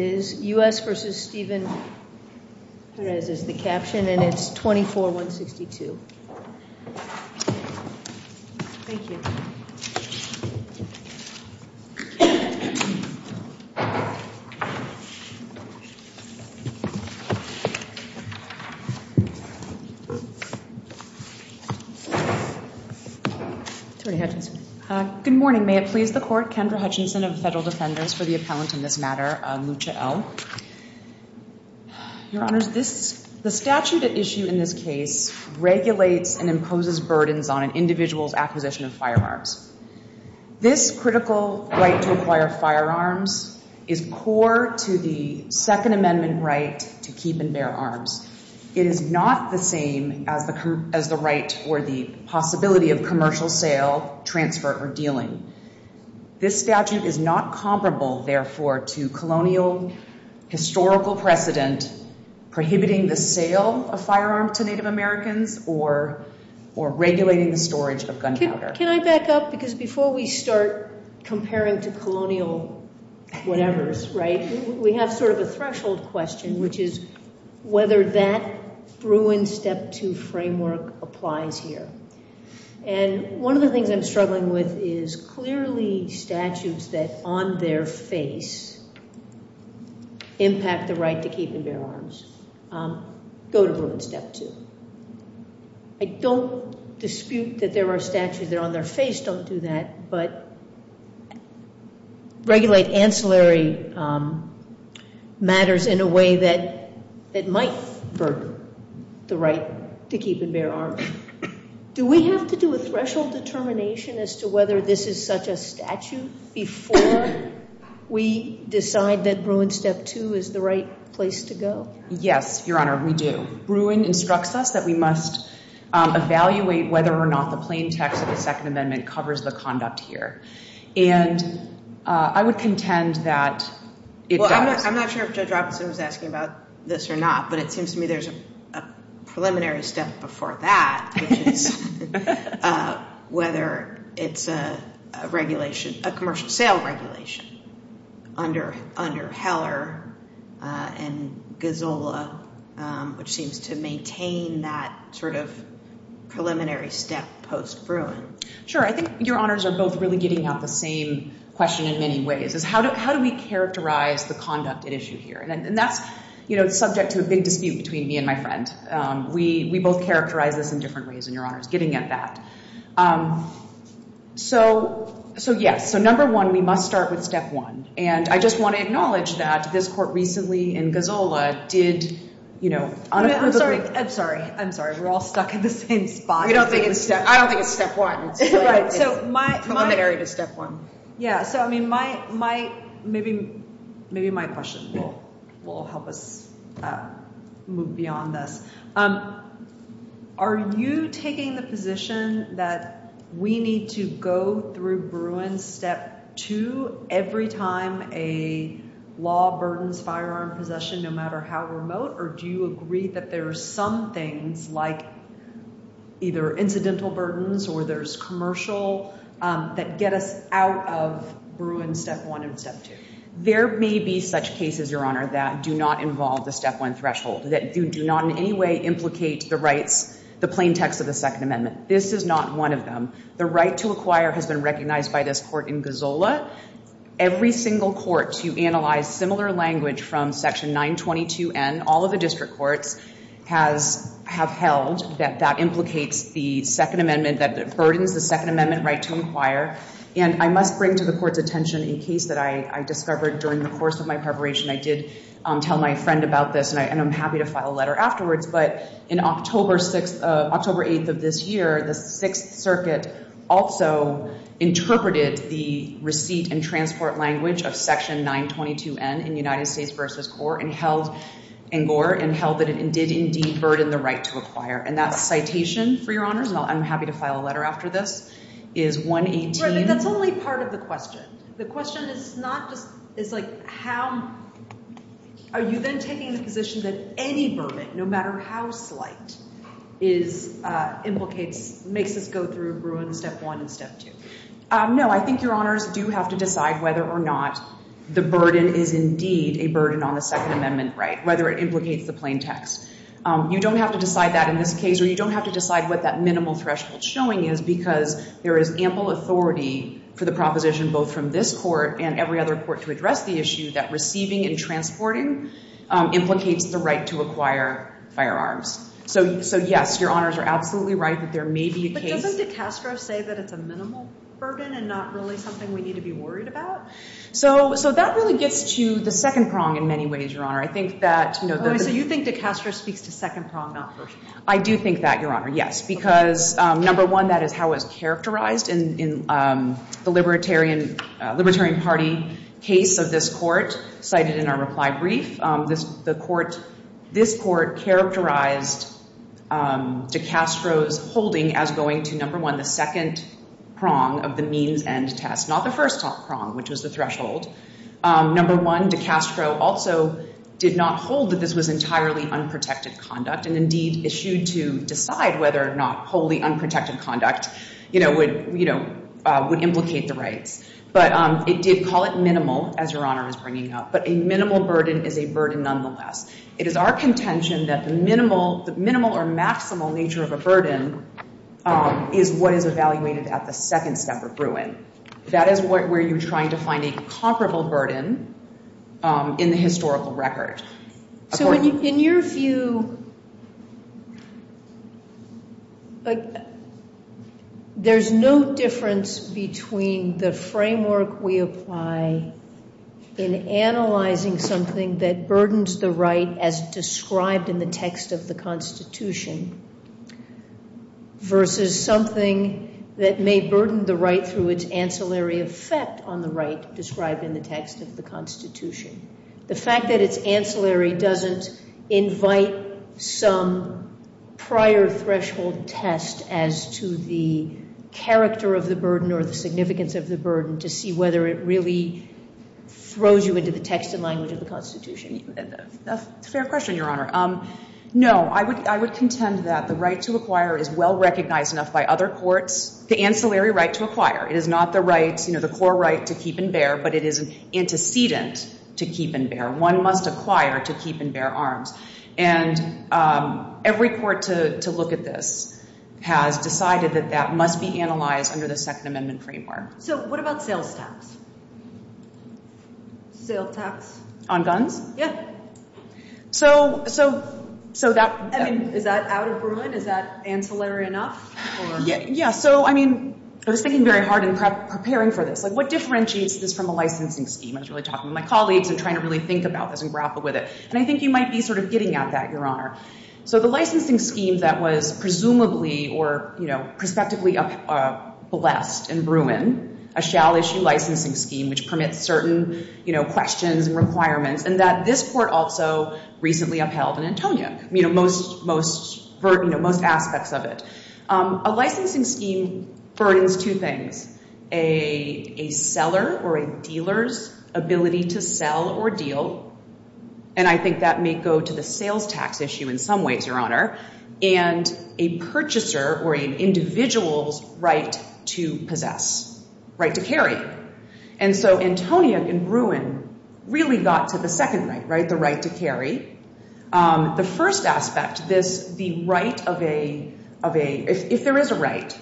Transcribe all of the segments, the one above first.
is U.S. v. Stephen Perez is the caption, and it's 24-162. Good morning. May it please the Court. My name is Kendra Hutchinson. I'm a Federal Defendant for the appellant in this matter, Lucha L. Your Honors, the statute at issue in this case regulates and imposes burdens on an individual's acquisition of firearms. This critical right to acquire firearms is core to the Second Amendment right to keep and bear arms. It is not the same as the right or the possibility of commercial sale, transfer, or dealing. This statute is not comparable, therefore, to colonial historical precedent prohibiting the sale of firearms to Native Americans or regulating the storage of gunpowder. Can I back up? Because before we start comparing to colonial whatevers, right, we have sort of a threshold question, which is whether that Bruin Step 2 framework applies here. And one of the things I'm struggling with is clearly statutes that on their face impact the right to keep and bear arms go to Bruin Step 2. I don't dispute that there are statutes that on their face don't do that, but regulate ancillary matters in a way that might burden the right to keep and bear arms. Do we have to do a threshold determination as to whether this is such a statute before we decide that Bruin Step 2 is the right place to go? Yes, Your Honor, we do. Bruin instructs us that we must evaluate whether or not the plain text of the Second Amendment covers the conduct here. And I would contend that it does. Well, I'm not sure if Judge Robinson was asking about this or not, but it seems to me there's a preliminary step before that, whether it's a regulation, a commercial sale regulation under Heller and Gazzola, which seems to maintain that sort of preliminary step post-Bruin. Sure, I think Your Honors are both really getting at the same question in many ways, is how do we characterize the conduct at issue here? And that's subject to a big dispute between me and my friend. We both characterize this in different ways, and Your Honor's getting at that. So yes, so number one, we must start with step one. And I just want to acknowledge that this court recently in Gazzola did, you know, on a public- I'm sorry, I'm sorry, I'm sorry. We're all stuck in the same spot. We don't think it's step- I don't think it's step one. It's preliminary to step one. Yeah, so I mean, my- maybe my question will help us move beyond this. Are you taking the position that we need to go through Bruin step two every time a law burdens firearm possession, no matter how remote, or do you agree that there are some things like either incidental burdens or there's commercial that get us out of Bruin step one and step two? There may be such cases, Your Honor, that do not involve the step one threshold, that do not in any way implicate the rights, the plain text of the Second Amendment. This is not one of them. The right to acquire has been recognized by this court in Gazzola. Every single court to analyze similar language from section 922N, all of the district courts, has- have held that that implicates the Second Amendment, that it burdens the Second Amendment right to acquire. And I must bring to the court's attention a case that I discovered during the course of my preparation. I did tell my friend about this, and I'm happy to file a letter afterwards. But in October 6th- October 8th of this year, the Sixth Circuit also interpreted the receipt and transport language of section 922N in United States versus Gore and held- in Gore and held that it did indeed burden the right to acquire. And that citation, for Your Honors, and I'm happy to file a letter after this, is 118- Really, that's only part of the question. The question is not just- it's like how- are you then taking the position that any vermin, no matter how slight, is- implicates- makes us go through Bruin step one and step two? No, I think Your Honors do have to decide whether or not the burden is indeed a burden on the Second Amendment right, whether it implicates the plain text. You don't have to decide that in this case, or you don't have to decide what that minimal threshold showing is, because there is ample authority for the proposition both from this court and every other court to address the issue that receiving and transporting implicates the right to acquire firearms. So yes, Your Honors are absolutely right that there may be a case- But doesn't DeCastro say that it's a minimal burden and not really something we need to be worried about? So that really gets to the second prong in many ways, Your Honor. I think that- So you think DeCastro speaks to second prong, not first prong? I do think that, Your Honor, yes. Because number one, that is how it's characterized in the Libertarian Party case of this court cited in our reply brief. This court characterized DeCastro's holding as going to, number one, the second prong of the means-end test, not the first prong, which was the threshold. Number one, DeCastro also did not hold that this was entirely unprotected conduct and indeed issued to decide whether or not wholly unprotected conduct would implicate the rights. But it did call it minimal, as Your Honor is bringing up. But a minimal burden is a burden nonetheless. It is our contention that the minimal or maximal nature of a burden is what is evaluated at the second step of Bruin. That is where you're trying to find a comparable burden in the historical record. So in your view, there's no difference between the framework we apply in analyzing something that burdens the right as described in the text of the Constitution versus something that may burden the right through its ancillary effect on the right described in the text of the Constitution. The fact that it's ancillary doesn't invite some prior threshold test as to the character of the burden or the significance of the burden to see whether it really throws you into the text and language of the Constitution. That's a fair question, Your Honor. No, I would contend that the right to acquire is well recognized enough by other courts, the ancillary right to acquire. It is not the right, you know, the core right to keep and bear, but it is an antecedent to keep and bear. One must acquire to keep and bear arms. And every court to look at this has decided that that must be analyzed under the Second Amendment framework. So what about sales tax? Sales tax. On guns? Yeah. Is that out of Bruin? Is that ancillary enough? Yeah, so I mean, I was thinking very hard in preparing for this. Like, what differentiates this from a licensing scheme? I was really talking to my colleagues and trying to really think about this and grapple with it. And I think you might be sort of getting at that, Your Honor. So the licensing scheme that was presumably or, you know, prospectively blessed in Bruin, a shall-issue licensing scheme which permits certain, you know, questions and requirements, and that this court also recently upheld in Antonia. You know, most aspects of it. A licensing scheme burdens two things. A seller or a dealer's ability to sell or deal. And I think that may go to the sales tax issue in some ways, Your Honor. And a purchaser or an individual's right to possess. Right to carry. And so Antonia in Bruin really got to the second right, right? The right to carry. The first aspect, this, the right of a, if there is a right,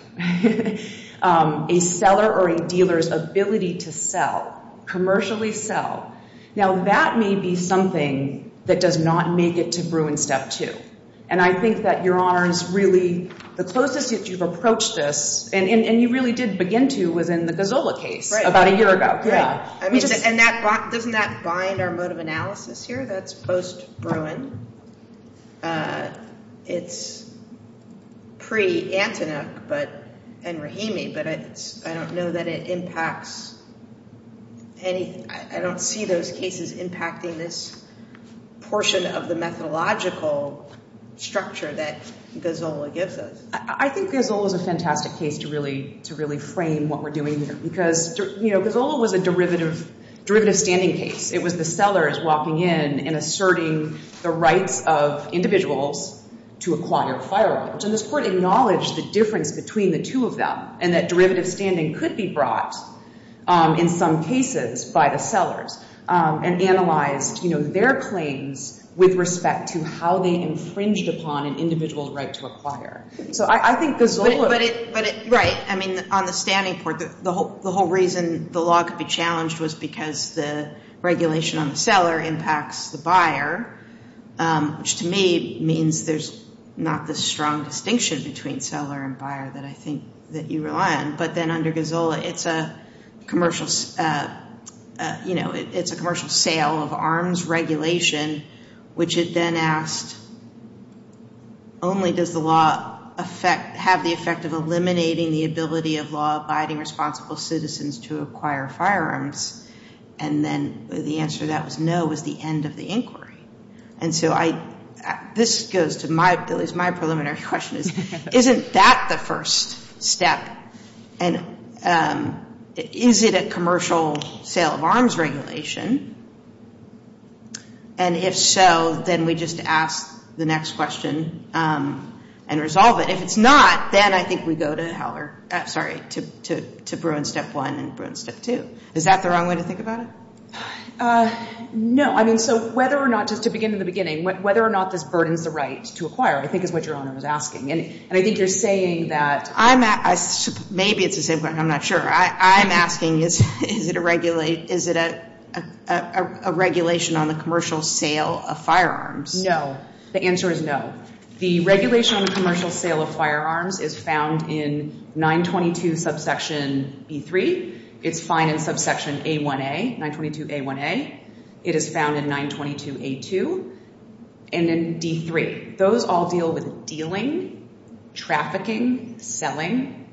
a seller or a dealer's ability to sell, commercially sell. Now, that may be something that does not make it to Bruin step two. And I think that, Your Honors, really the closest that you've approached this, and you really did begin to, was in the Gazzola case about a year ago. I mean, and that, doesn't that bind our mode of analysis here? That's post-Bruin. It's pre-Antonia, but, and Rahimi, but I don't know that it impacts any, I don't see those cases impacting this portion of the methodological structure that Gazzola gives us. I think Gazzola's a fantastic case to really, to really frame what we're doing here. Because, you know, Gazzola was a derivative, derivative standing case. It was the sellers walking in and asserting the rights of individuals to acquire fireworks. And this Court acknowledged the difference between the two of them, and that derivative standing could be brought, in some cases, by the sellers, and analyzed, you know, their claims with respect to how they infringed upon an individual's right to acquire. So I think Gazzola- But it, but it, right. I mean, on the standing court, the whole, the whole reason the law could be challenged was because the regulation on the seller impacts the buyer, which to me means there's not this strong distinction between seller and buyer that I think that you rely on. But then under Gazzola, it's a commercial, you know, it's a commercial sale of arms regulation, which it then asked, only does the law affect, have the effect of eliminating the ability of law-abiding responsible citizens to acquire firearms? And then the answer that was no was the end of the inquiry. And so I, this goes to my, at least my preliminary question is, isn't that the first step? And is it a commercial sale of arms regulation? And if so, then we just ask the next question and resolve it. If it's not, then I think we go to Howler, sorry, to Bruin Step 1 and Bruin Step 2. Is that the wrong way to think about it? Uh, no. I mean, so whether or not, just to begin in the beginning, whether or not this burdens the right to acquire, I think is what Your Honor was asking. And I think you're saying that- I'm, maybe it's the same question, I'm not sure. I'm asking is, is it a regulate, is it a regulation on the commercial sale of firearms? No. The answer is no. The regulation on the commercial sale of firearms is found in 922 subsection B3. It's fine in subsection A1A, 922 A1A. It is found in 922 A2 and then D3. Those all deal with dealing, trafficking, selling.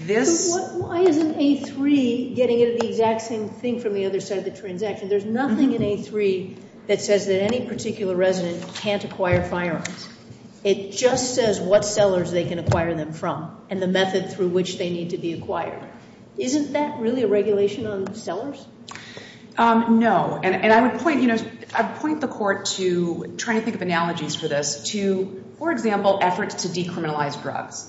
This- Why isn't A3 getting into the exact same thing from the other side of the transaction? There's nothing in A3 that says that any particular resident can't acquire firearms. It just says what sellers they can acquire them from and the method through which they need to be acquired. Isn't that really a regulation on sellers? No. And I would point, you know, I would point the court to, trying to think of analogies for this, to, for example, efforts to decriminalize drugs.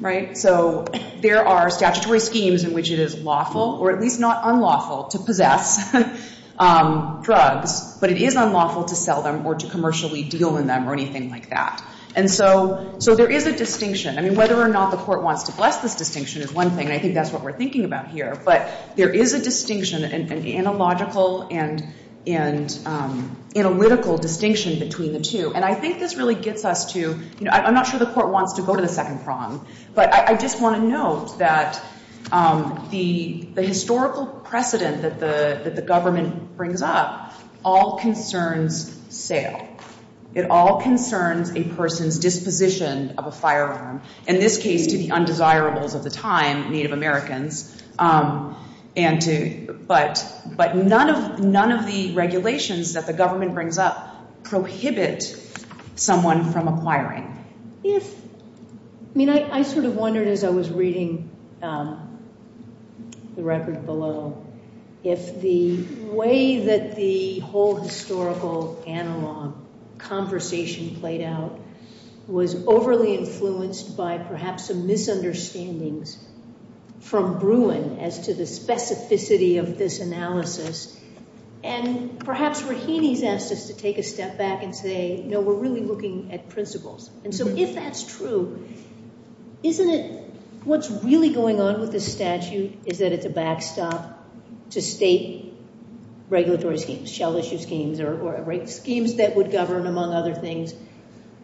Right? So there are statutory schemes in which it is lawful or at least not unlawful to possess drugs, but it is unlawful to sell them or to commercially deal in them or anything like that. And so, so there is a distinction. I mean, whether or not the court wants to bless this distinction is one thing. And I think that's what we're thinking about here. But there is a distinction, an analogical and, and analytical distinction between the two. And I think this really gets us to, you know, I'm not sure the court wants to go to the second prong, but I just want to note that the, the historical precedent that the, that the government brings up all concerns sale. It all concerns a person's disposition of a firearm, in this case to the undesirables of the time, Native Americans, and to, but, but none of, none of the regulations that the government brings up prohibit someone from acquiring. If, I mean, I, I sort of wondered as I was reading the record below, if the way that the whole historical analog conversation played out was overly influenced by perhaps some misunderstandings from Bruin as to the specificity of this analysis. And perhaps Rahini's asked us to take a step back and say, no, we're really looking at principles. And so if that's true, isn't it, what's really going on with this statute is that it's a backstop to state regulatory schemes, shell issue schemes, or schemes that would govern among other things,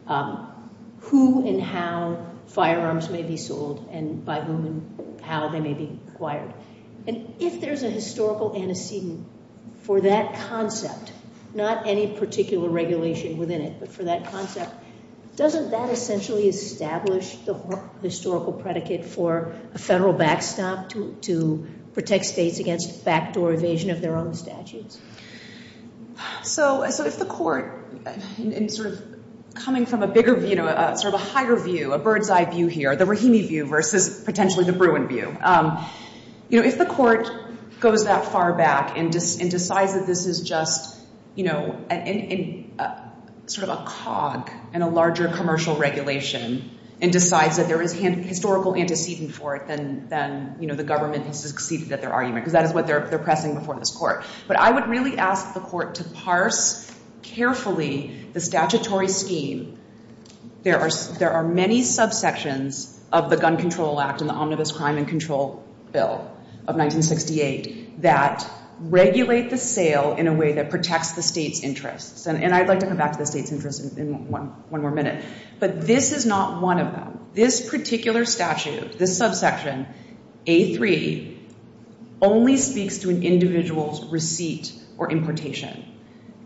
who and how firearms may be sold and by whom and how they may be And if there's a historical antecedent for that concept, not any particular regulation within it, but for that concept, doesn't that essentially establish the historical predicate for a federal backstop to, to protect states against backdoor evasion of their own statutes? So, so if the court, in sort of coming from a bigger view, sort of a higher view, a bird's eye view here, the Rahini view versus potentially the Bruin view, you know, if the court goes that far back and decides that this is just, you know, sort of a cog in a larger commercial regulation and decides that there is historical antecedent for it, then, then, you know, the government has succeeded at their argument because that is what they're pressing before this court. But I would really ask the court to parse carefully the statutory scheme. There are, there are many subsections of the Gun Control Act and the Omnibus Crime and that regulate the sale in a way that protects the state's interests. And I'd like to come back to the state's interest in one more minute. But this is not one of them. This particular statute, this subsection, A3, only speaks to an individual's receipt or importation.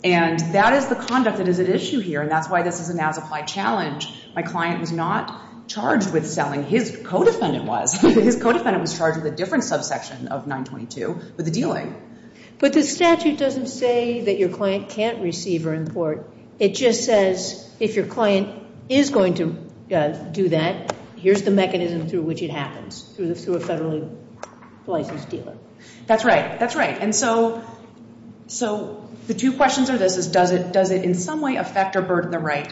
And that is the conduct that is at issue here. And that's why this is an as-applied challenge. My client was not charged with selling. His co-defendant was. His co-defendant was charged with a different subsection of 922, with the dealing. But the statute doesn't say that your client can't receive or import. It just says, if your client is going to do that, here's the mechanism through which it happens, through a federally licensed dealer. That's right. That's right. And so, so the two questions are this, is does it, does it in some way affect or burden the right?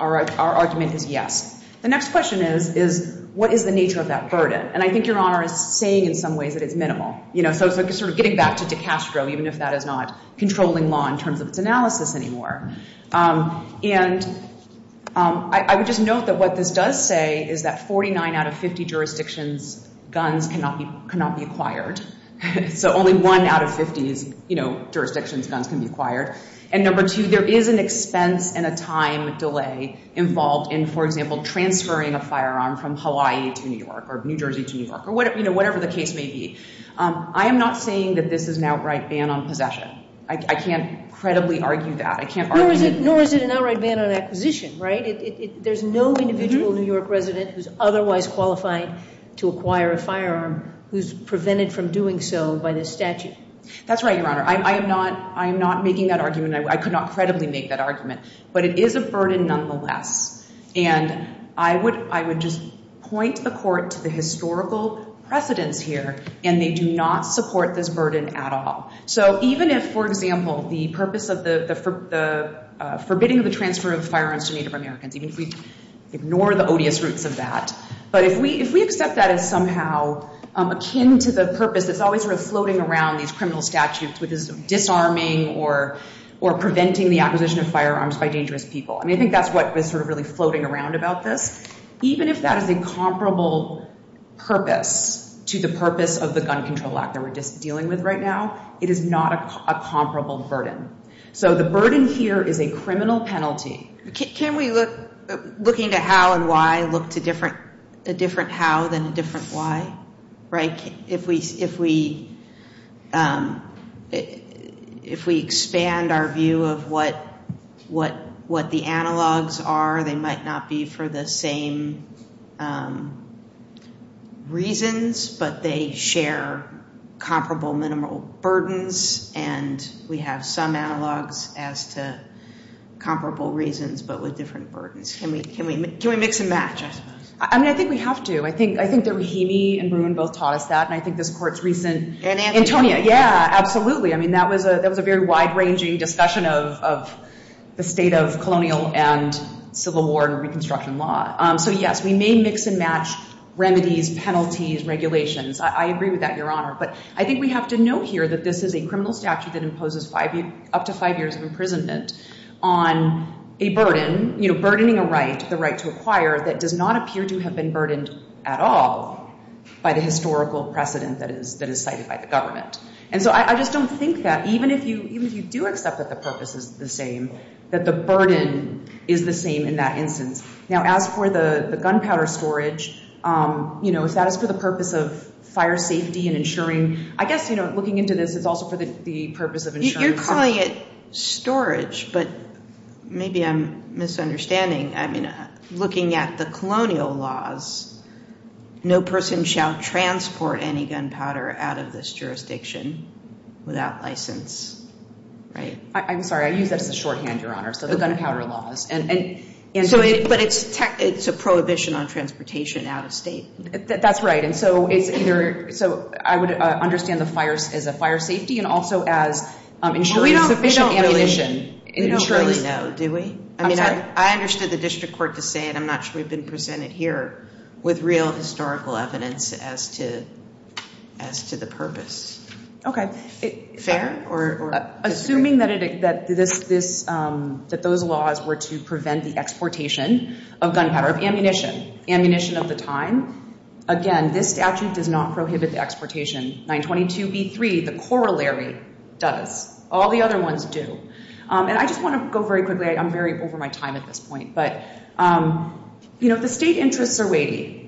Our argument is yes. The next question is, is what is the nature of that burden? And I think Your Honor is saying in some ways that it's minimal. You know, so it's sort of getting back to De Castro, even if that is not controlling law in terms of its analysis anymore. And I would just note that what this does say is that 49 out of 50 jurisdictions, guns cannot be, cannot be acquired. So only one out of 50 is, you know, jurisdictions guns can be acquired. And number two, there is an expense and a time delay involved in, for example, transferring a firearm from Hawaii to New York or New Jersey to New York or whatever, you know, whatever the case may be. I am not saying that this is an outright ban on possession. I can't credibly argue that. I can't argue. Nor is it an outright ban on acquisition, right? There's no individual New York resident who's otherwise qualified to acquire a firearm who's prevented from doing so by this statute. That's right, Your Honor. I am not making that argument. I could not credibly make that argument. But it is a burden nonetheless. And I would just point the court to the historical precedence here. And they do not support this burden at all. So even if, for example, the purpose of the forbidding of the transfer of firearms to Native Americans, even if we ignore the odious roots of that, but if we accept that as somehow akin to the purpose that's always sort of floating around these criminal statutes, disarming or preventing the acquisition of firearms by dangerous people. And I think that's what was sort of really floating around about this. Even if that is a comparable purpose to the purpose of the Gun Control Act that we're dealing with right now, it is not a comparable burden. So the burden here is a criminal penalty. Can we, looking at how and why, look to a different how than a different why, right? If we expand our view of what the analogs are, they might not be for the same reasons. But they share comparable minimal burdens. And we have some analogs as to comparable reasons, but with different burdens. Can we mix and match, I suppose? I mean, I think we have to. I think that Rahimi and Bruin both taught us that. And I think this court's recent- And Antonia. Antonia, yeah, absolutely. I mean, that was a very wide-ranging discussion of the state of colonial and civil war and Reconstruction law. So yes, we may mix and match remedies, penalties, regulations. I agree with that, Your Honor. But I think we have to note here that this is a criminal statute that imposes up to five years of imprisonment on a burden, burdening a right, the right to acquire, that does not do have been burdened at all by the historical precedent that is cited by the government. And so I just don't think that, even if you do accept that the purpose is the same, that the burden is the same in that instance. Now, as for the gunpowder storage, is that for the purpose of fire safety and ensuring- I guess, looking into this, it's also for the purpose of ensuring- You're calling it storage, but maybe I'm misunderstanding. I mean, looking at the colonial laws, no person shall transport any gunpowder out of this jurisdiction without license. Right? I'm sorry. I use that as a shorthand, Your Honor. So the gunpowder laws. But it's a prohibition on transportation out of state. That's right. And so it's either- so I would understand the fires as a fire safety and also as ensuring sufficient ammunition. We don't really know, do we? I understood the district court to say, and I'm not sure we've been presented here with real historical evidence as to the purpose. Okay. Fair? Assuming that those laws were to prevent the exportation of gunpowder, of ammunition, ammunition of the time. Again, this statute does not prohibit the exportation. 922b3, the corollary does. All the other ones do. And I just want to go very quickly. I'm very over my time at this point. But, you know, the state interests are weighty.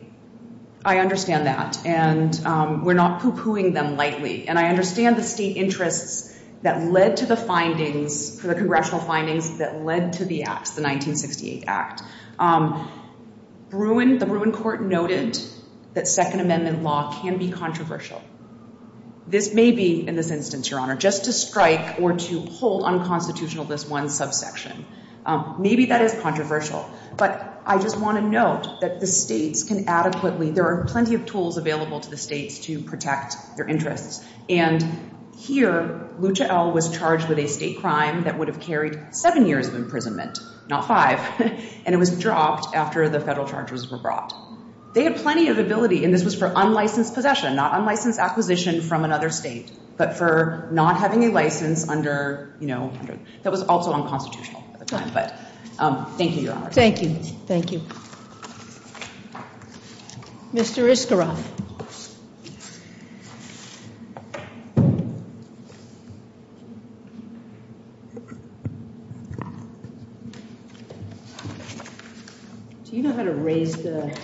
I understand that. And we're not poo-pooing them lightly. And I understand the state interests that led to the findings, the congressional findings that led to the acts, the 1968 Act. The Bruin Court noted that Second Amendment law can be controversial. This may be, in this instance, Your Honor, just to strike or to hold unconstitutional this one subsection. Maybe that is controversial. But I just want to note that the states can adequately, there are plenty of tools available to the states to protect their interests. And here, Lucha L was charged with a state crime that would have carried seven years of imprisonment, not five. And it was dropped after the federal charges were brought. They had plenty of ability. And this was for unlicensed possession, not unlicensed acquisition from another state, but for not having a license under, you know, that was also unconstitutional. But thank you, Your Honor. Thank you. Thank you. Mr. Iskoroff. Do you know how to raise the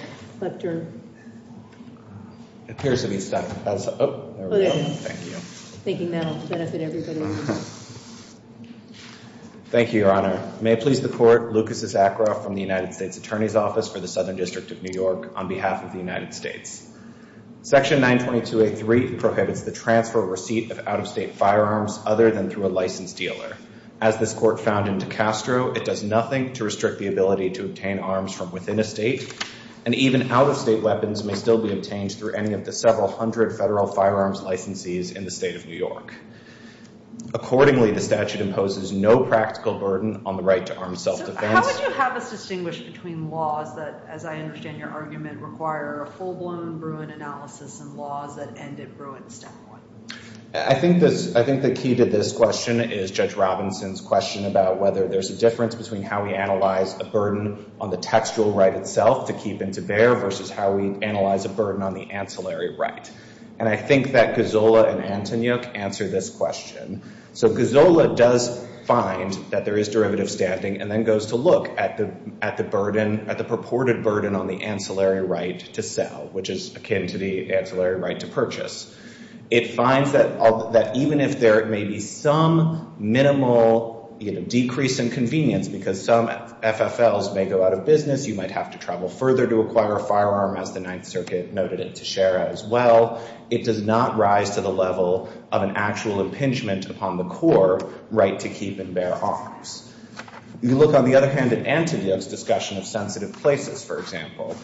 lepter? It appears to be stuck. Oh, there we go. Thank you. Thinking that will benefit everybody. Thank you, Your Honor. May it please the Court, Lucas Iskoroff from the United States Attorney's Office for the Southern District of New York on behalf of the United States. Section 922A3 prohibits the transfer or receipt of out-of-state firearms other than through a licensed dealer. As this Court found in DeCastro, it does nothing to restrict the ability to obtain arms from within a state. And even out-of-state weapons may still be obtained through any of the several hundred federal firearms licensees in the state of New York. Accordingly, the statute imposes no practical burden on the right to armed self-defense. How would you have us distinguish between laws that, as I understand your argument, require a full-blown Bruin analysis and laws that ended Bruin step one? I think the key to this question is Judge Robinson's question about whether there's a difference between how we analyze a burden on the textual right itself to keep and to bear versus how we analyze a burden on the ancillary right. And I think that Gozola and Antonyuk answer this question. So Gozola does find that there is derivative standing and then goes to look at the purported burden on the ancillary right to sell, which is akin to the ancillary right to purchase. It finds that even if there may be some minimal decrease in convenience because some FFLs may go out of business, you might have to travel further to acquire a firearm, as the does not rise to the level of an actual impingement upon the core right to keep and bear arms. You look, on the other hand, at Antonyuk's discussion of sensitive places, for example.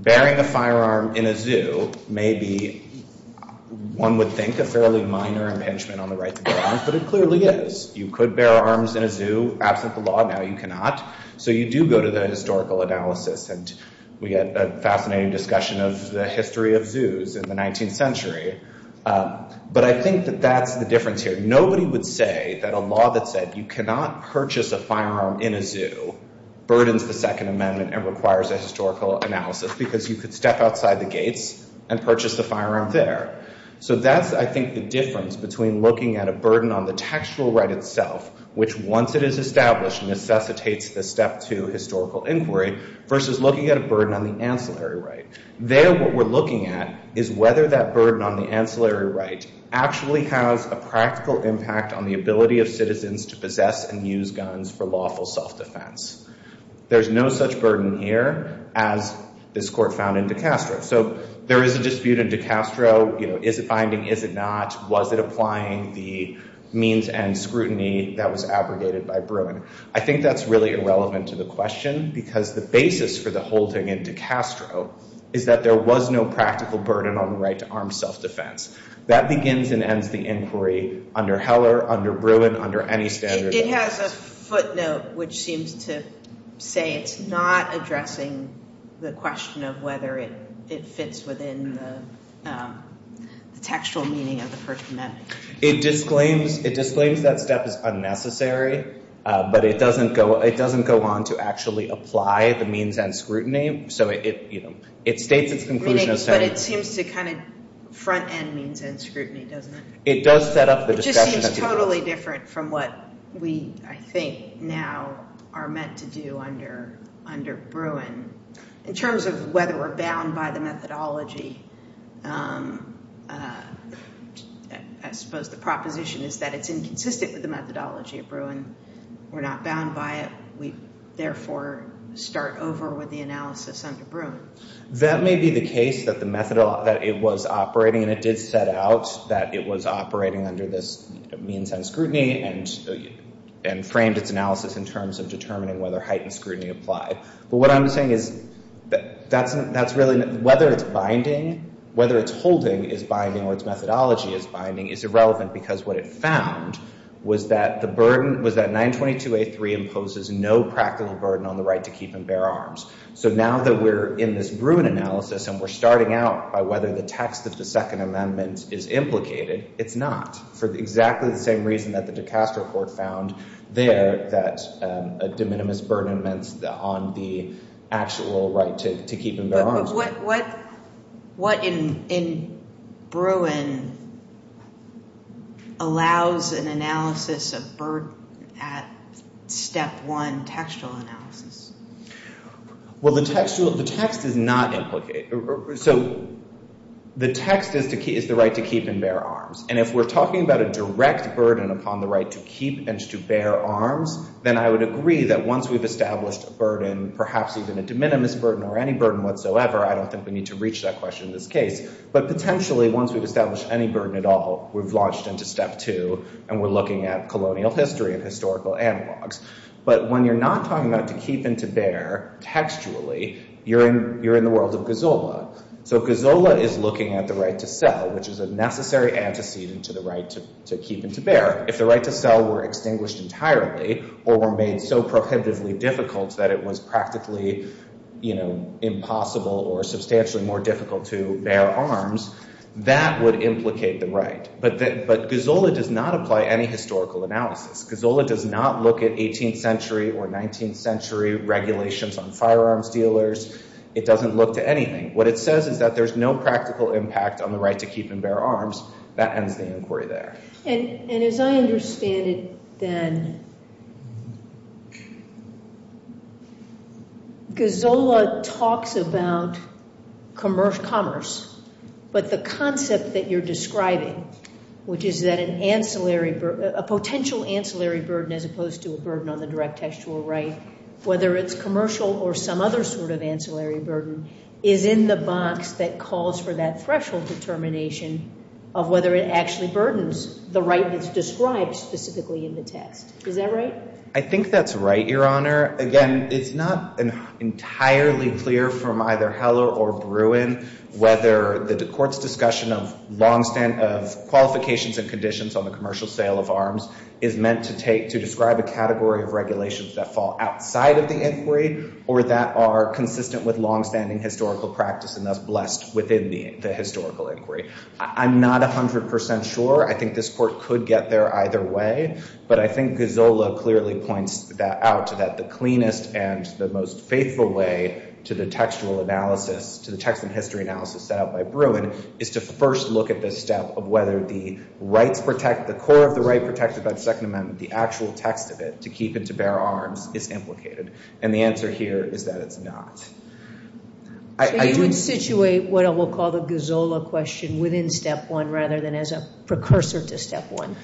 Bearing a firearm in a zoo may be, one would think, a fairly minor impingement on the right to bear arms, but it clearly is. You could bear arms in a zoo. Absent the law now, you cannot. So you do go to the historical analysis. And we had a fascinating discussion of the history of zoos in the 19th century. But I think that that's the difference here. Nobody would say that a law that said you cannot purchase a firearm in a zoo burdens the Second Amendment and requires a historical analysis because you could step outside the gates and purchase a firearm there. So that's, I think, the difference between looking at a burden on the textual right itself, which, once it is established, necessitates the step to historical inquiry, versus looking at a burden on the ancillary right. There, what we're looking at is whether that burden on the ancillary right actually has a practical impact on the ability of citizens to possess and use guns for lawful self-defense. There's no such burden here as this Court found in DiCastro. So there is a dispute in DiCastro. Is it binding? Is it not? Was it applying the means and scrutiny that was abrogated by Bruin? I think that's really irrelevant to the question because the basis for the whole thing in DiCastro is that there was no practical burden on the right to armed self-defense. That begins and ends the inquiry under Heller, under Bruin, under any standard. It has a footnote which seems to say it's not addressing the question of whether it fits within the textual meaning of the First Amendment. It disclaims that step is unnecessary, but it doesn't go on to actually apply the means and scrutiny. So it states its conclusion as saying— Meaning, but it seems to kind of front-end means and scrutiny, doesn't it? It does set up the discussion— It just seems totally different from what we, I think, now are meant to do under Bruin. In terms of whether we're bound by the methodology, I suppose the proposition is that it's inconsistent with the methodology of Bruin. We're not bound by it. We, therefore, start over with the analysis under Bruin. That may be the case, that it was operating, and it did set out that it was operating under this means and scrutiny and framed its analysis in terms of determining whether heightened scrutiny applied. But what I'm saying is that's really— Whether it's binding, whether it's holding is binding or its methodology is binding is irrelevant because what it found was that the burden—was that 922A3 imposes no practical burden on the right to keep and bear arms. So now that we're in this Bruin analysis and we're starting out by whether the text of the Second Amendment is implicated, it's not, for exactly the same reason that the actual right to keep and bear arms— But what in Bruin allows an analysis of burden at step one textual analysis? Well, the text is not implicated. So the text is the right to keep and bear arms. And if we're talking about a direct burden upon the right to keep and to bear arms, then I would agree that once we've established a burden, perhaps even a de minimis burden or any burden whatsoever, I don't think we need to reach that question in this case. But potentially, once we've established any burden at all, we've launched into step two and we're looking at colonial history and historical analogs. But when you're not talking about to keep and to bear textually, you're in the world of Gozola. So Gozola is looking at the right to sell, which is a necessary antecedent to the right to keep and to bear. If the right to sell were extinguished entirely or were made so prohibitively difficult that it was practically, you know, impossible or substantially more difficult to bear arms, that would implicate the right. But Gozola does not apply any historical analysis. Gozola does not look at 18th century or 19th century regulations on firearms dealers. It doesn't look to anything. What it says is that there's no practical impact on the right to keep and bear arms. That ends the inquiry there. And as I understand it then, Gozola talks about commerce, but the concept that you're describing, which is that an ancillary, a potential ancillary burden as opposed to a burden on the direct textual right, whether it's commercial or some other sort of ancillary burden, is in the box that calls for that threshold determination of whether it actually burdens the right that's described specifically in the text. Is that right? I think that's right, Your Honor. Again, it's not entirely clear from either Heller or Bruin whether the court's discussion of long-standing qualifications and conditions on the commercial sale of arms is meant to describe a category of regulations that fall outside of the inquiry or that are consistent with long-standing historical practice and thus blessed within the historical inquiry. I'm not 100% sure. I think this court could get there either way. But I think Gozola clearly points that out to that the cleanest and the most faithful way to the textual analysis, to the text and history analysis set out by Bruin, is to first look at this step of whether the rights protect, the core of the right protected by the Second Amendment, the actual text of it, to keep and to bear arms is implicated. And the answer here is that it's not. So you would situate what I will call the Gozola question within step one rather than as a precursor to step one?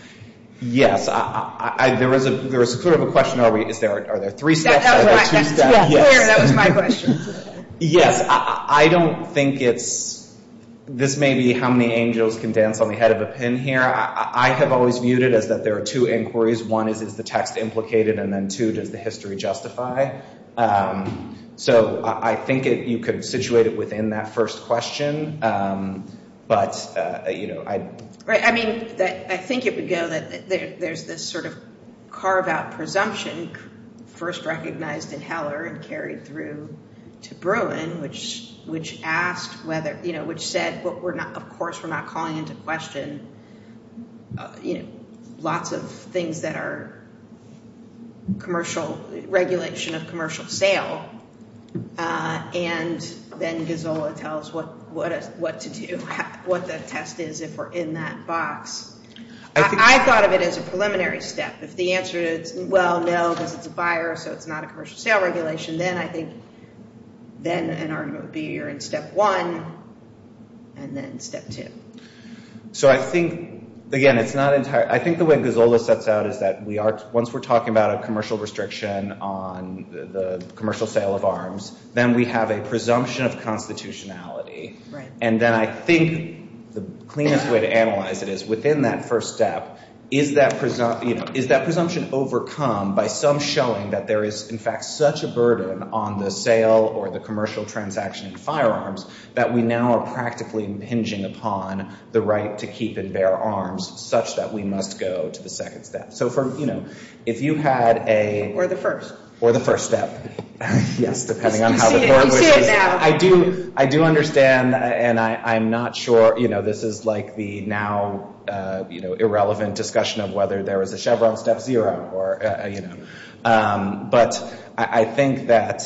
Yes. There was a sort of a question, are there three steps or two steps? That's clear. That was my question. Yes. I don't think it's, this may be how many angels can dance on the head of a pin here. I have always viewed it as that there are two inquiries. One is, is the text implicated? And then two, does the history justify? Um, so I think you could situate it within that first question. Um, but, uh, you know, I. Right. I mean, I think it would go that there's this sort of carve out presumption first recognized in Heller and carried through to Bruin, which, which asked whether, you know, which said, well, we're not, of course, we're not calling into question, you know, lots of things that are commercial regulation of commercial sale. Uh, and then Gazzola tells what, what, what to do, what the test is if we're in that box. I thought of it as a preliminary step. If the answer is, well, no, because it's a buyer. So it's not a commercial sale regulation. Then I think then an argument would be you're in step one and then step two. So I think, again, it's not entirely. I think the way Gazzola sets out is that we are, once we're talking about a commercial restriction on the commercial sale of arms, then we have a presumption of constitutionality. Right. And then I think the cleanest way to analyze it is within that first step, is that presumptive, is that presumption overcome by some showing that there is in fact such a burden on the sale or the commercial transaction firearms that we now are practically impinging upon the right to keep and bear arms such that we must go to the second step. So for, you know, if you had a. Or the first. Or the first step. Yes. Depending on how. I do, I do understand. And I, I'm not sure, you know, this is like the now, uh, you know, irrelevant discussion of whether there was a Chevron step zero or, uh, you know, um, but I, I think that,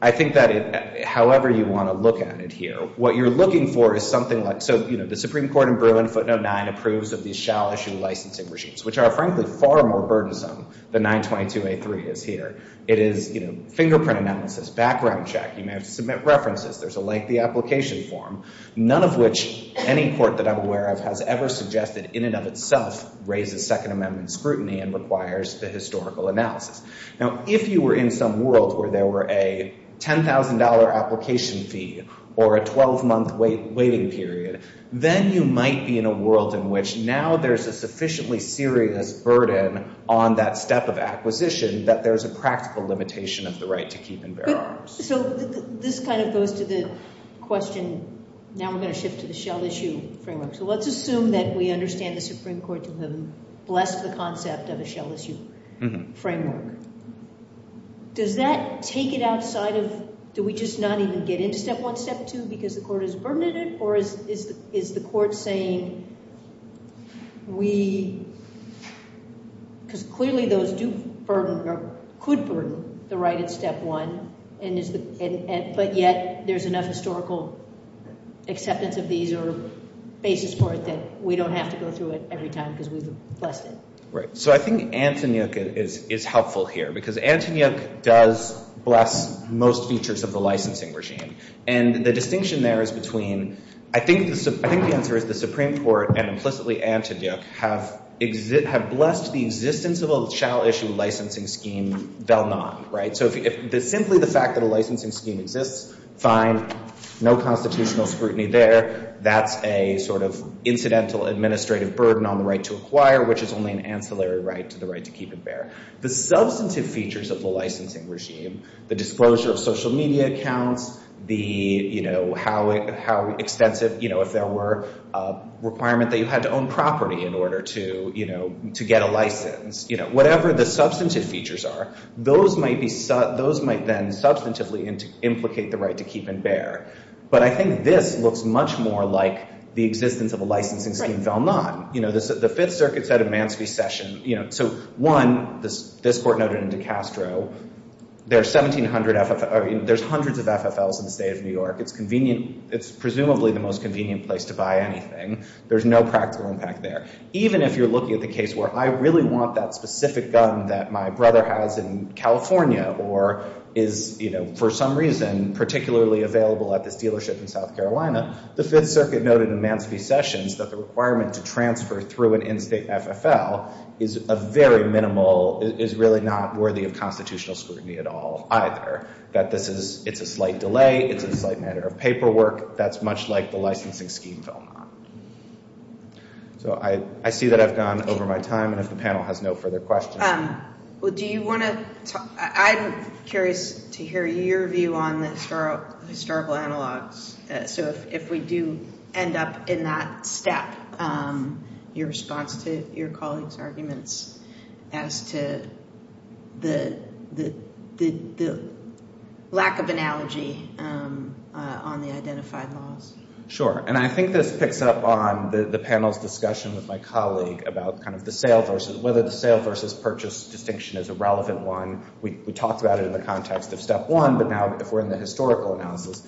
I think that it, however you want to look at it here, what you're looking for is something like, so, you know, the Supreme Court in Bruin footnote nine approves of these shall issue licensing regimes, which are frankly far more burdensome than 922A3 is here. It is, you know, fingerprint analysis, background check. You may have to submit references. There's a lengthy application form, none of which any court that I'm aware of has ever suggested in and of itself raises second amendment scrutiny and requires the historical analysis. Now, if you were in some world where there were a $10,000 application fee or a 12 month waiting period, then you might be in a world in which now there's a sufficiently serious burden on that step of acquisition that there's a practical limitation of the right to keep and bear arms. So this kind of goes to the question. Now we're going to shift to the shall issue framework. So let's assume that we understand the Supreme Court to have blessed the concept of a shall issue framework. Does that take it outside of, do we just not even get into step one, step two, because the court has burdened it or is the court saying we, because clearly those do burden or could burden the right at step one, but yet there's enough historical acceptance of these or basis for it that we don't have to go through it every time because we've blessed it. Right. So I think Antonyuk is helpful here because Antonyuk does bless most features of the licensing regime. And the distinction there is between, I think the answer is the Supreme Court and implicitly Antonyuk have blessed the existence of a shall issue licensing scheme, they'll not. Right. So if simply the fact that a licensing scheme exists, fine, no constitutional scrutiny there. That's a sort of incidental administrative burden on the right to acquire, which is only an ancillary right to the right to keep and bear. The substantive features of the licensing regime, the disclosure of social media accounts, the, you know, how extensive, you know, if there were a requirement that you had to own property in order to, you know, to get a license, you know, whatever the substantive features are, those might be, those might then substantively implicate the right to keep and bear. But I think this looks much more like the existence of a licensing scheme, they'll not. You know, the Fifth Circuit said in Mansfield's session, you know, so one, this court noted in DeCastro, there's 1700, there's hundreds of FFLs in the state of New York. It's convenient. It's presumably the most convenient place to buy anything. There's no practical impact there. Even if you're looking at the case where I really want that specific gun that my brother has in California or is, you know, for some reason, particularly available at this dealership in South Carolina, the Fifth Circuit noted in Mansfield's session that the requirement to transfer through an in-state FFL is a very minimal, is really not worthy of constitutional scrutiny at all either. That this is, it's a slight delay. It's a slight matter of paperwork. That's much like the licensing scheme. So I, I see that I've gone over my time and if the panel has no further questions. Um, well, do you want to, I'm curious to hear your view on the historical analogs. So if, if we do end up in that step, um, your response to your colleagues' arguments as to the, the, the, the lack of analogy, um, uh, on the identified laws. Sure. And I think this picks up on the, the panel's discussion with my colleague about kind of the sale versus, whether the sale versus purchase distinction is a relevant one. We, we talked about it in the context of step one, but now if we're in the historical analysis,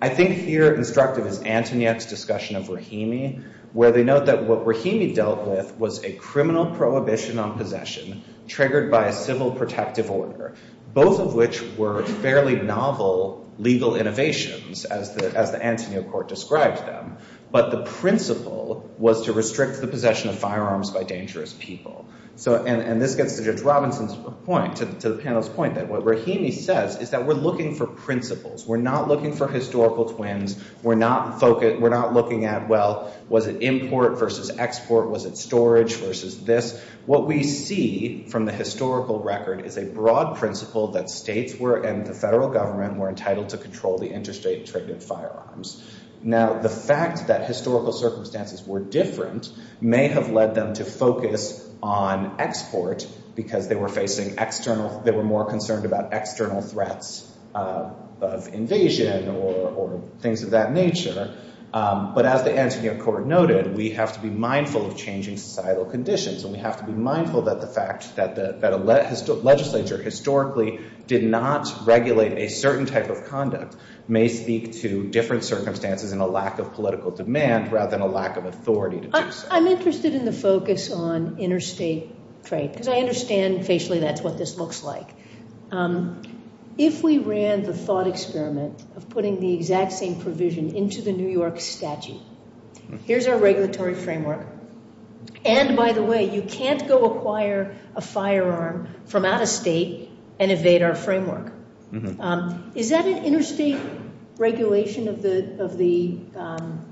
I think here instructive is Antoniette's discussion of Rahimi, where they note that what Rahimi dealt with was a criminal prohibition on possession triggered by a civil protective order. Both of which were fairly novel legal innovations as the, as the Antonio Court described them. But the principle was to restrict the possession of firearms by dangerous people. So, and, and this gets to Judge Robinson's point, to the panel's point that what Rahimi says is that we're looking for principles. We're not looking for historical twins. We're not focused, we're not looking at, well, was it import versus export? Was it storage versus this? What we see from the historical record is a broad principle that states were, and the federal government were entitled to control the interstate triggered firearms. Now, the fact that historical circumstances were different may have led them to focus on export because they were facing external, they were more concerned about external threats, of invasion or, or things of that nature. But as the Antonio Court noted, we have to be mindful of changing societal conditions. And we have to be mindful that the fact that the, that a legislature historically did not regulate a certain type of conduct may speak to different circumstances and a lack of political demand rather than a lack of authority. I, I'm interested in the focus on interstate trade because I understand facially that's what this looks like. Um, if we ran the thought experiment of putting the exact same provision into the New York statute, here's our regulatory framework. And by the way, you can't go acquire a firearm from out of state and evade our framework. Is that an interstate regulation of the, of the, um,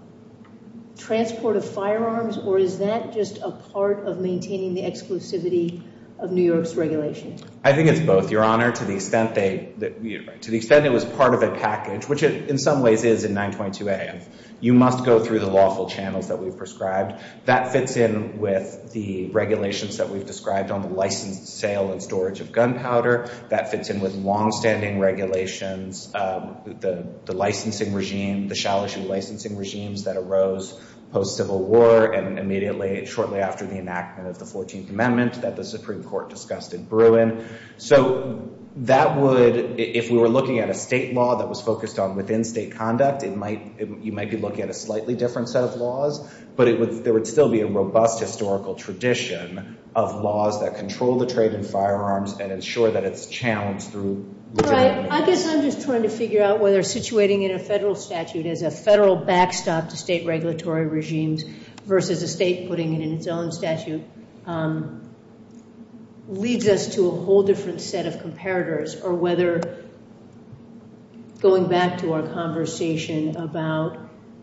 transport of firearms? Or is that just a part of maintaining the exclusivity of New York's regulations? I think it's both, Your Honor. To the extent they, to the extent it was part of a package, which it in some ways is in 922 AF, you must go through the lawful channels that we've prescribed. That fits in with the regulations that we've described on the licensed sale and storage of gunpowder. That fits in with longstanding regulations, um, the, the licensing regime, the shall-ish licensing regimes that arose post-Civil War and immediately, shortly after the enactment of the 14th Amendment that the Supreme Court discussed in Bruin. So that would, if we were looking at a state law that was focused on within state conduct, it might, it, you might be looking at a slightly different set of laws, but it would, there would still be a robust historical tradition of laws that control the trade in firearms and ensure that it's challenged through legitimate means. I guess I'm just trying to figure out whether situating in a federal statute is a federal backstop to state regulatory regimes versus a state putting it in its own statute. Um, leads us to a whole different set of comparators or whether going back to our conversation about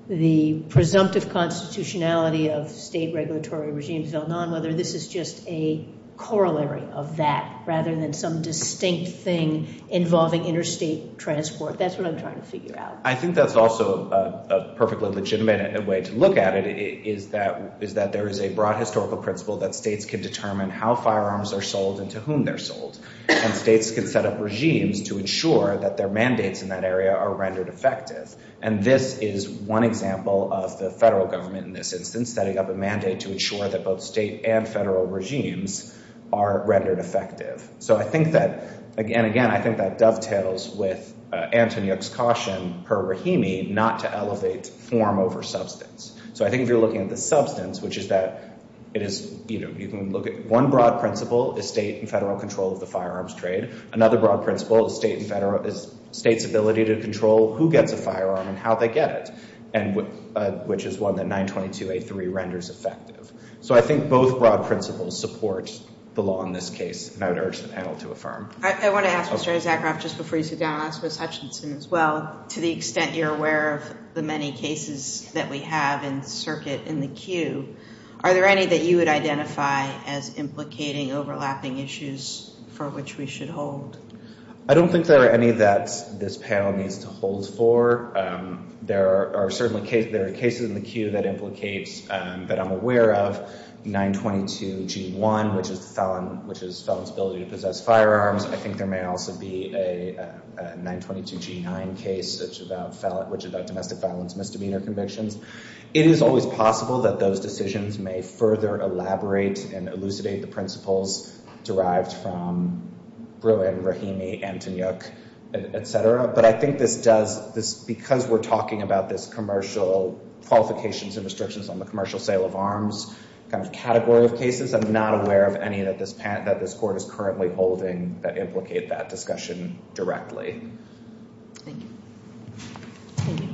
the presumptive constitutionality of state regulatory regimes, whether this is just a corollary of that rather than some distinct thing involving interstate transport. That's what I'm trying to figure out. I think that's also a perfectly legitimate way to look at it is that, is that there is a broad historical principle that states can determine how firearms are sold and to whom they're sold and states can set up regimes to ensure that their mandates in that area are rendered effective. And this is one example of the federal government in this instance, setting up a mandate to ensure that both state and federal regimes are rendered effective. So I think that, again, again, I think that dovetails with Antoniuk's caution per Rahimi not to elevate form over substance. So I think if you're looking at the substance, which is that it is, you know, you can look at one broad principle is state and federal control of the firearms trade. Another broad principle is state and federal, is state's ability to control who gets a firearm and how they get it. And which is one that 922A3 renders effective. So I think both broad principles support the law in this case. And I would urge the panel to affirm. All right. I want to ask Mr. Isaacroff just before you sit down, I'll ask Ms. Hutchinson as well. To the extent you're aware of the many cases that we have in circuit in the queue, are there any that you would identify as implicating overlapping issues for which we should hold? I don't think there are any that this panel needs to hold for. There are certainly cases, there are cases in the queue that implicates that I'm aware of 922G1, which is felon, which is felon's ability to possess firearms. I think there may also be a 922G9 case, which is about domestic violence misdemeanor convictions. It is always possible that those decisions may further elaborate and elucidate the principles derived from Bruin, Rahimi, Antonyuk, et cetera. But I think this does, because we're talking about this commercial qualifications and restrictions on the commercial sale of arms kind of category of cases, I'm not aware of any that this court is currently holding that implicate that discussion directly. Thank you.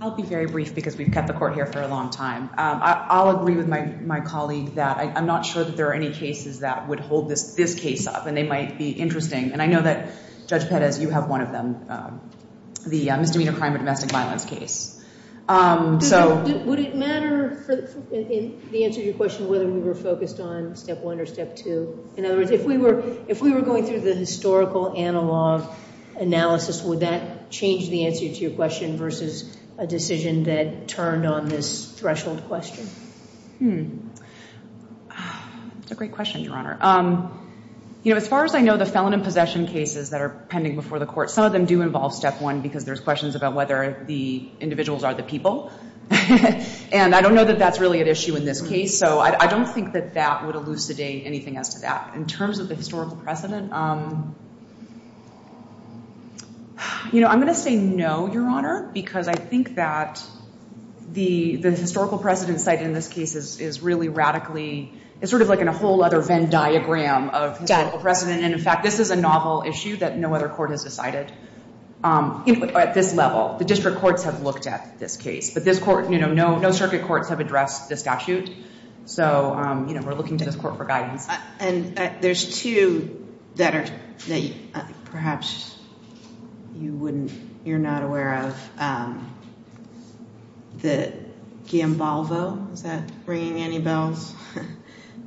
I'll be very brief because we've kept the court here for a long time. I'll agree with my colleague that I'm not sure that there are any cases that would hold this case up and they might be interesting. And I know that Judge Pettis, you have one of them, the misdemeanor crime of domestic violence case. But would it matter for the answer to your question whether we were focused on step one or step two? In other words, if we were going through the historical analog analysis, would that change the answer to your question versus a decision that turned on this threshold question? It's a great question, Your Honor. As far as I know, the felon and possession cases that are pending before the court, some of them do involve step one because there's questions about whether the individuals are the people. And I don't know that that's really an issue in this case. So I don't think that that would elucidate anything as to that. In terms of the historical precedent, you know, I'm going to say no, Your Honor, because I think that the historical precedent site in this case is really radically, it's sort of like in a whole other Venn diagram of historical precedent. And in fact, this is a novel issue that no other court has decided at this level. The district courts have looked at this case. But no circuit courts have addressed the statute. So we're looking to this court for guidance. And there's two that perhaps you're not aware of. The Guillain-Balvo, is that ringing any bells?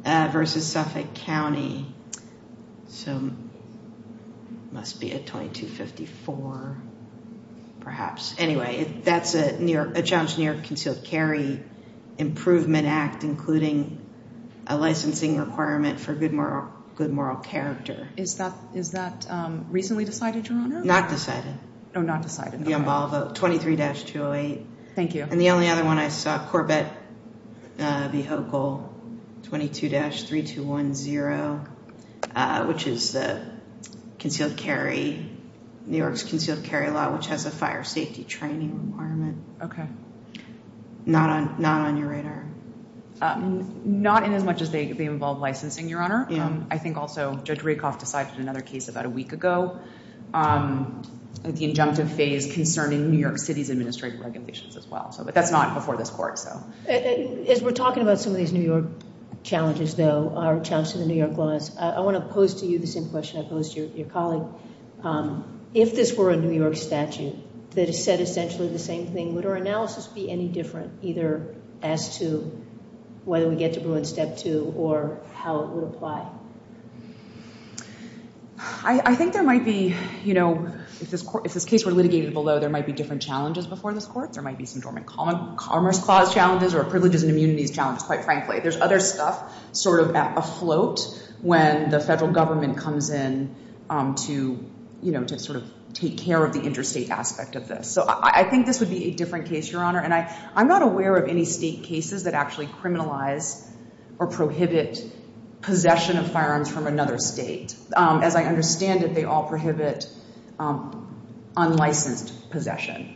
Versus Suffolk County. So it must be a 2254, perhaps. Anyway, that's a challenge to New York concealed carry improvement act, including a licensing requirement for good moral character. Is that recently decided, Your Honor? Not decided. Oh, not decided. Guillain-Balvo, 23-208. Thank you. And the only other one I saw, Corbett v. Hochul, 22-3210, which is the concealed carry, New York's concealed carry law, which has a fire safety training requirement. Okay. Not on your radar. Not in as much as they involve licensing, Your Honor. I think also Judge Rakoff decided another case about a week ago. The injunctive phase concerning New York City's administrative regulations as well. But that's not before this court. As we're talking about some of these New York challenges, though, our challenge to the New York laws, I want to pose to you the same question I posed to your colleague. If this were a New York statute that said essentially the same thing, would our analysis be any different, either as to whether we get to Bruin Step 2 or how it would apply? Well, I think there might be, you know, if this case were litigated below, there might be different challenges before this court. There might be some dormant common commerce clause challenges or privileges and immunities challenges, quite frankly. There's other stuff sort of afloat when the federal government comes in to, you know, to sort of take care of the interstate aspect of this. So I think this would be a different case, Your Honor. And I'm not aware of any state cases that actually criminalize or prohibit possession of firearms from another state. As I understand it, they all prohibit unlicensed possession.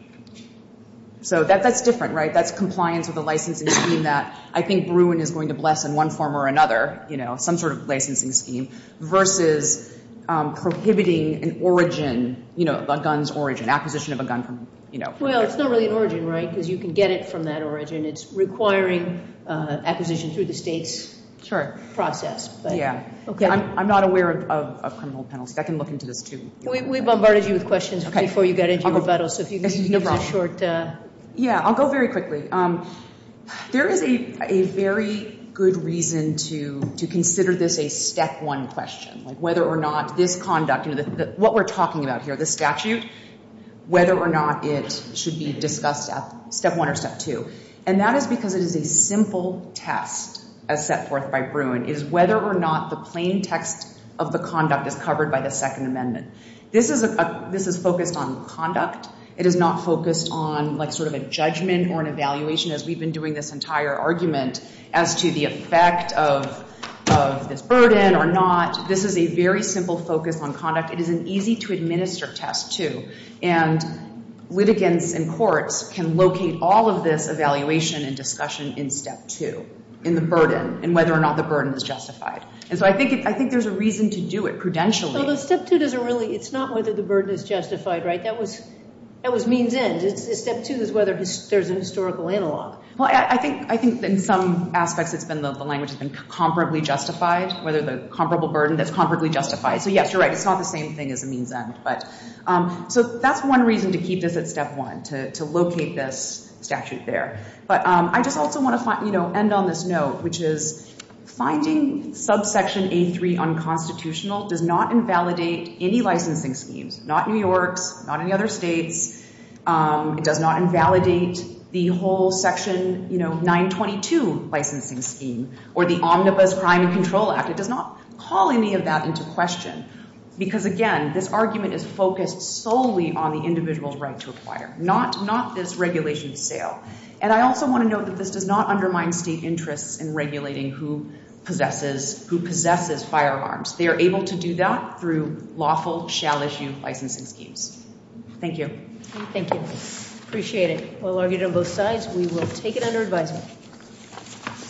So that's different, right? That's compliance with a licensing scheme that I think Bruin is going to bless in one form or another, you know, some sort of licensing scheme, versus prohibiting an origin, you know, a gun's origin, acquisition of a gun from, you know. Well, it's not really an origin, right? Because you can get it from that origin. It's requiring acquisition through the state's process. Okay. I'm not aware of a criminal penalty. I can look into this, too. We bombarded you with questions before you got into rebuttal. So if you need a short... Yeah, I'll go very quickly. There is a very good reason to consider this a step one question, like whether or not this conduct, you know, what we're talking about here, the statute, whether or not it should be discussed at step one or step two. And that is because it is a simple test, as set forth by Bruin, is whether or not the plain text of the conduct is covered by the Second Amendment. This is focused on conduct. It is not focused on, like, sort of a judgment or an evaluation, as we've been doing this entire argument, as to the effect of this burden or not. This is a very simple focus on conduct. It is an easy-to-administer test, too. And litigants and courts can locate all of this evaluation and discussion in step two, in the burden, and whether or not the burden is justified. And so I think there's a reason to do it prudentially. Although step two doesn't really... It's not whether the burden is justified, right? That was means end. Step two is whether there's a historical analog. Well, I think in some aspects, it's been the language has been comparably justified, whether the comparable burden that's comparably justified. So yes, you're right. It's not the same thing as a means end. So that's one reason to keep this at step one, to locate this statute there. But I just also want to end on this note, which is finding subsection A3 unconstitutional does not invalidate any licensing schemes. Not New York's, not any other states. It does not invalidate the whole section 922 licensing scheme, or the Omnibus Crime and Control Act. It does not call any of that into question. Because again, this argument is focused solely on the individual's right to acquire, not this regulation of sale. And I also want to note that this does not undermine state interests in regulating who possesses firearms. They are able to do that through lawful, shall issue licensing schemes. Thank you. Thank you. Appreciate it. Well argued on both sides. We will take it under advisement.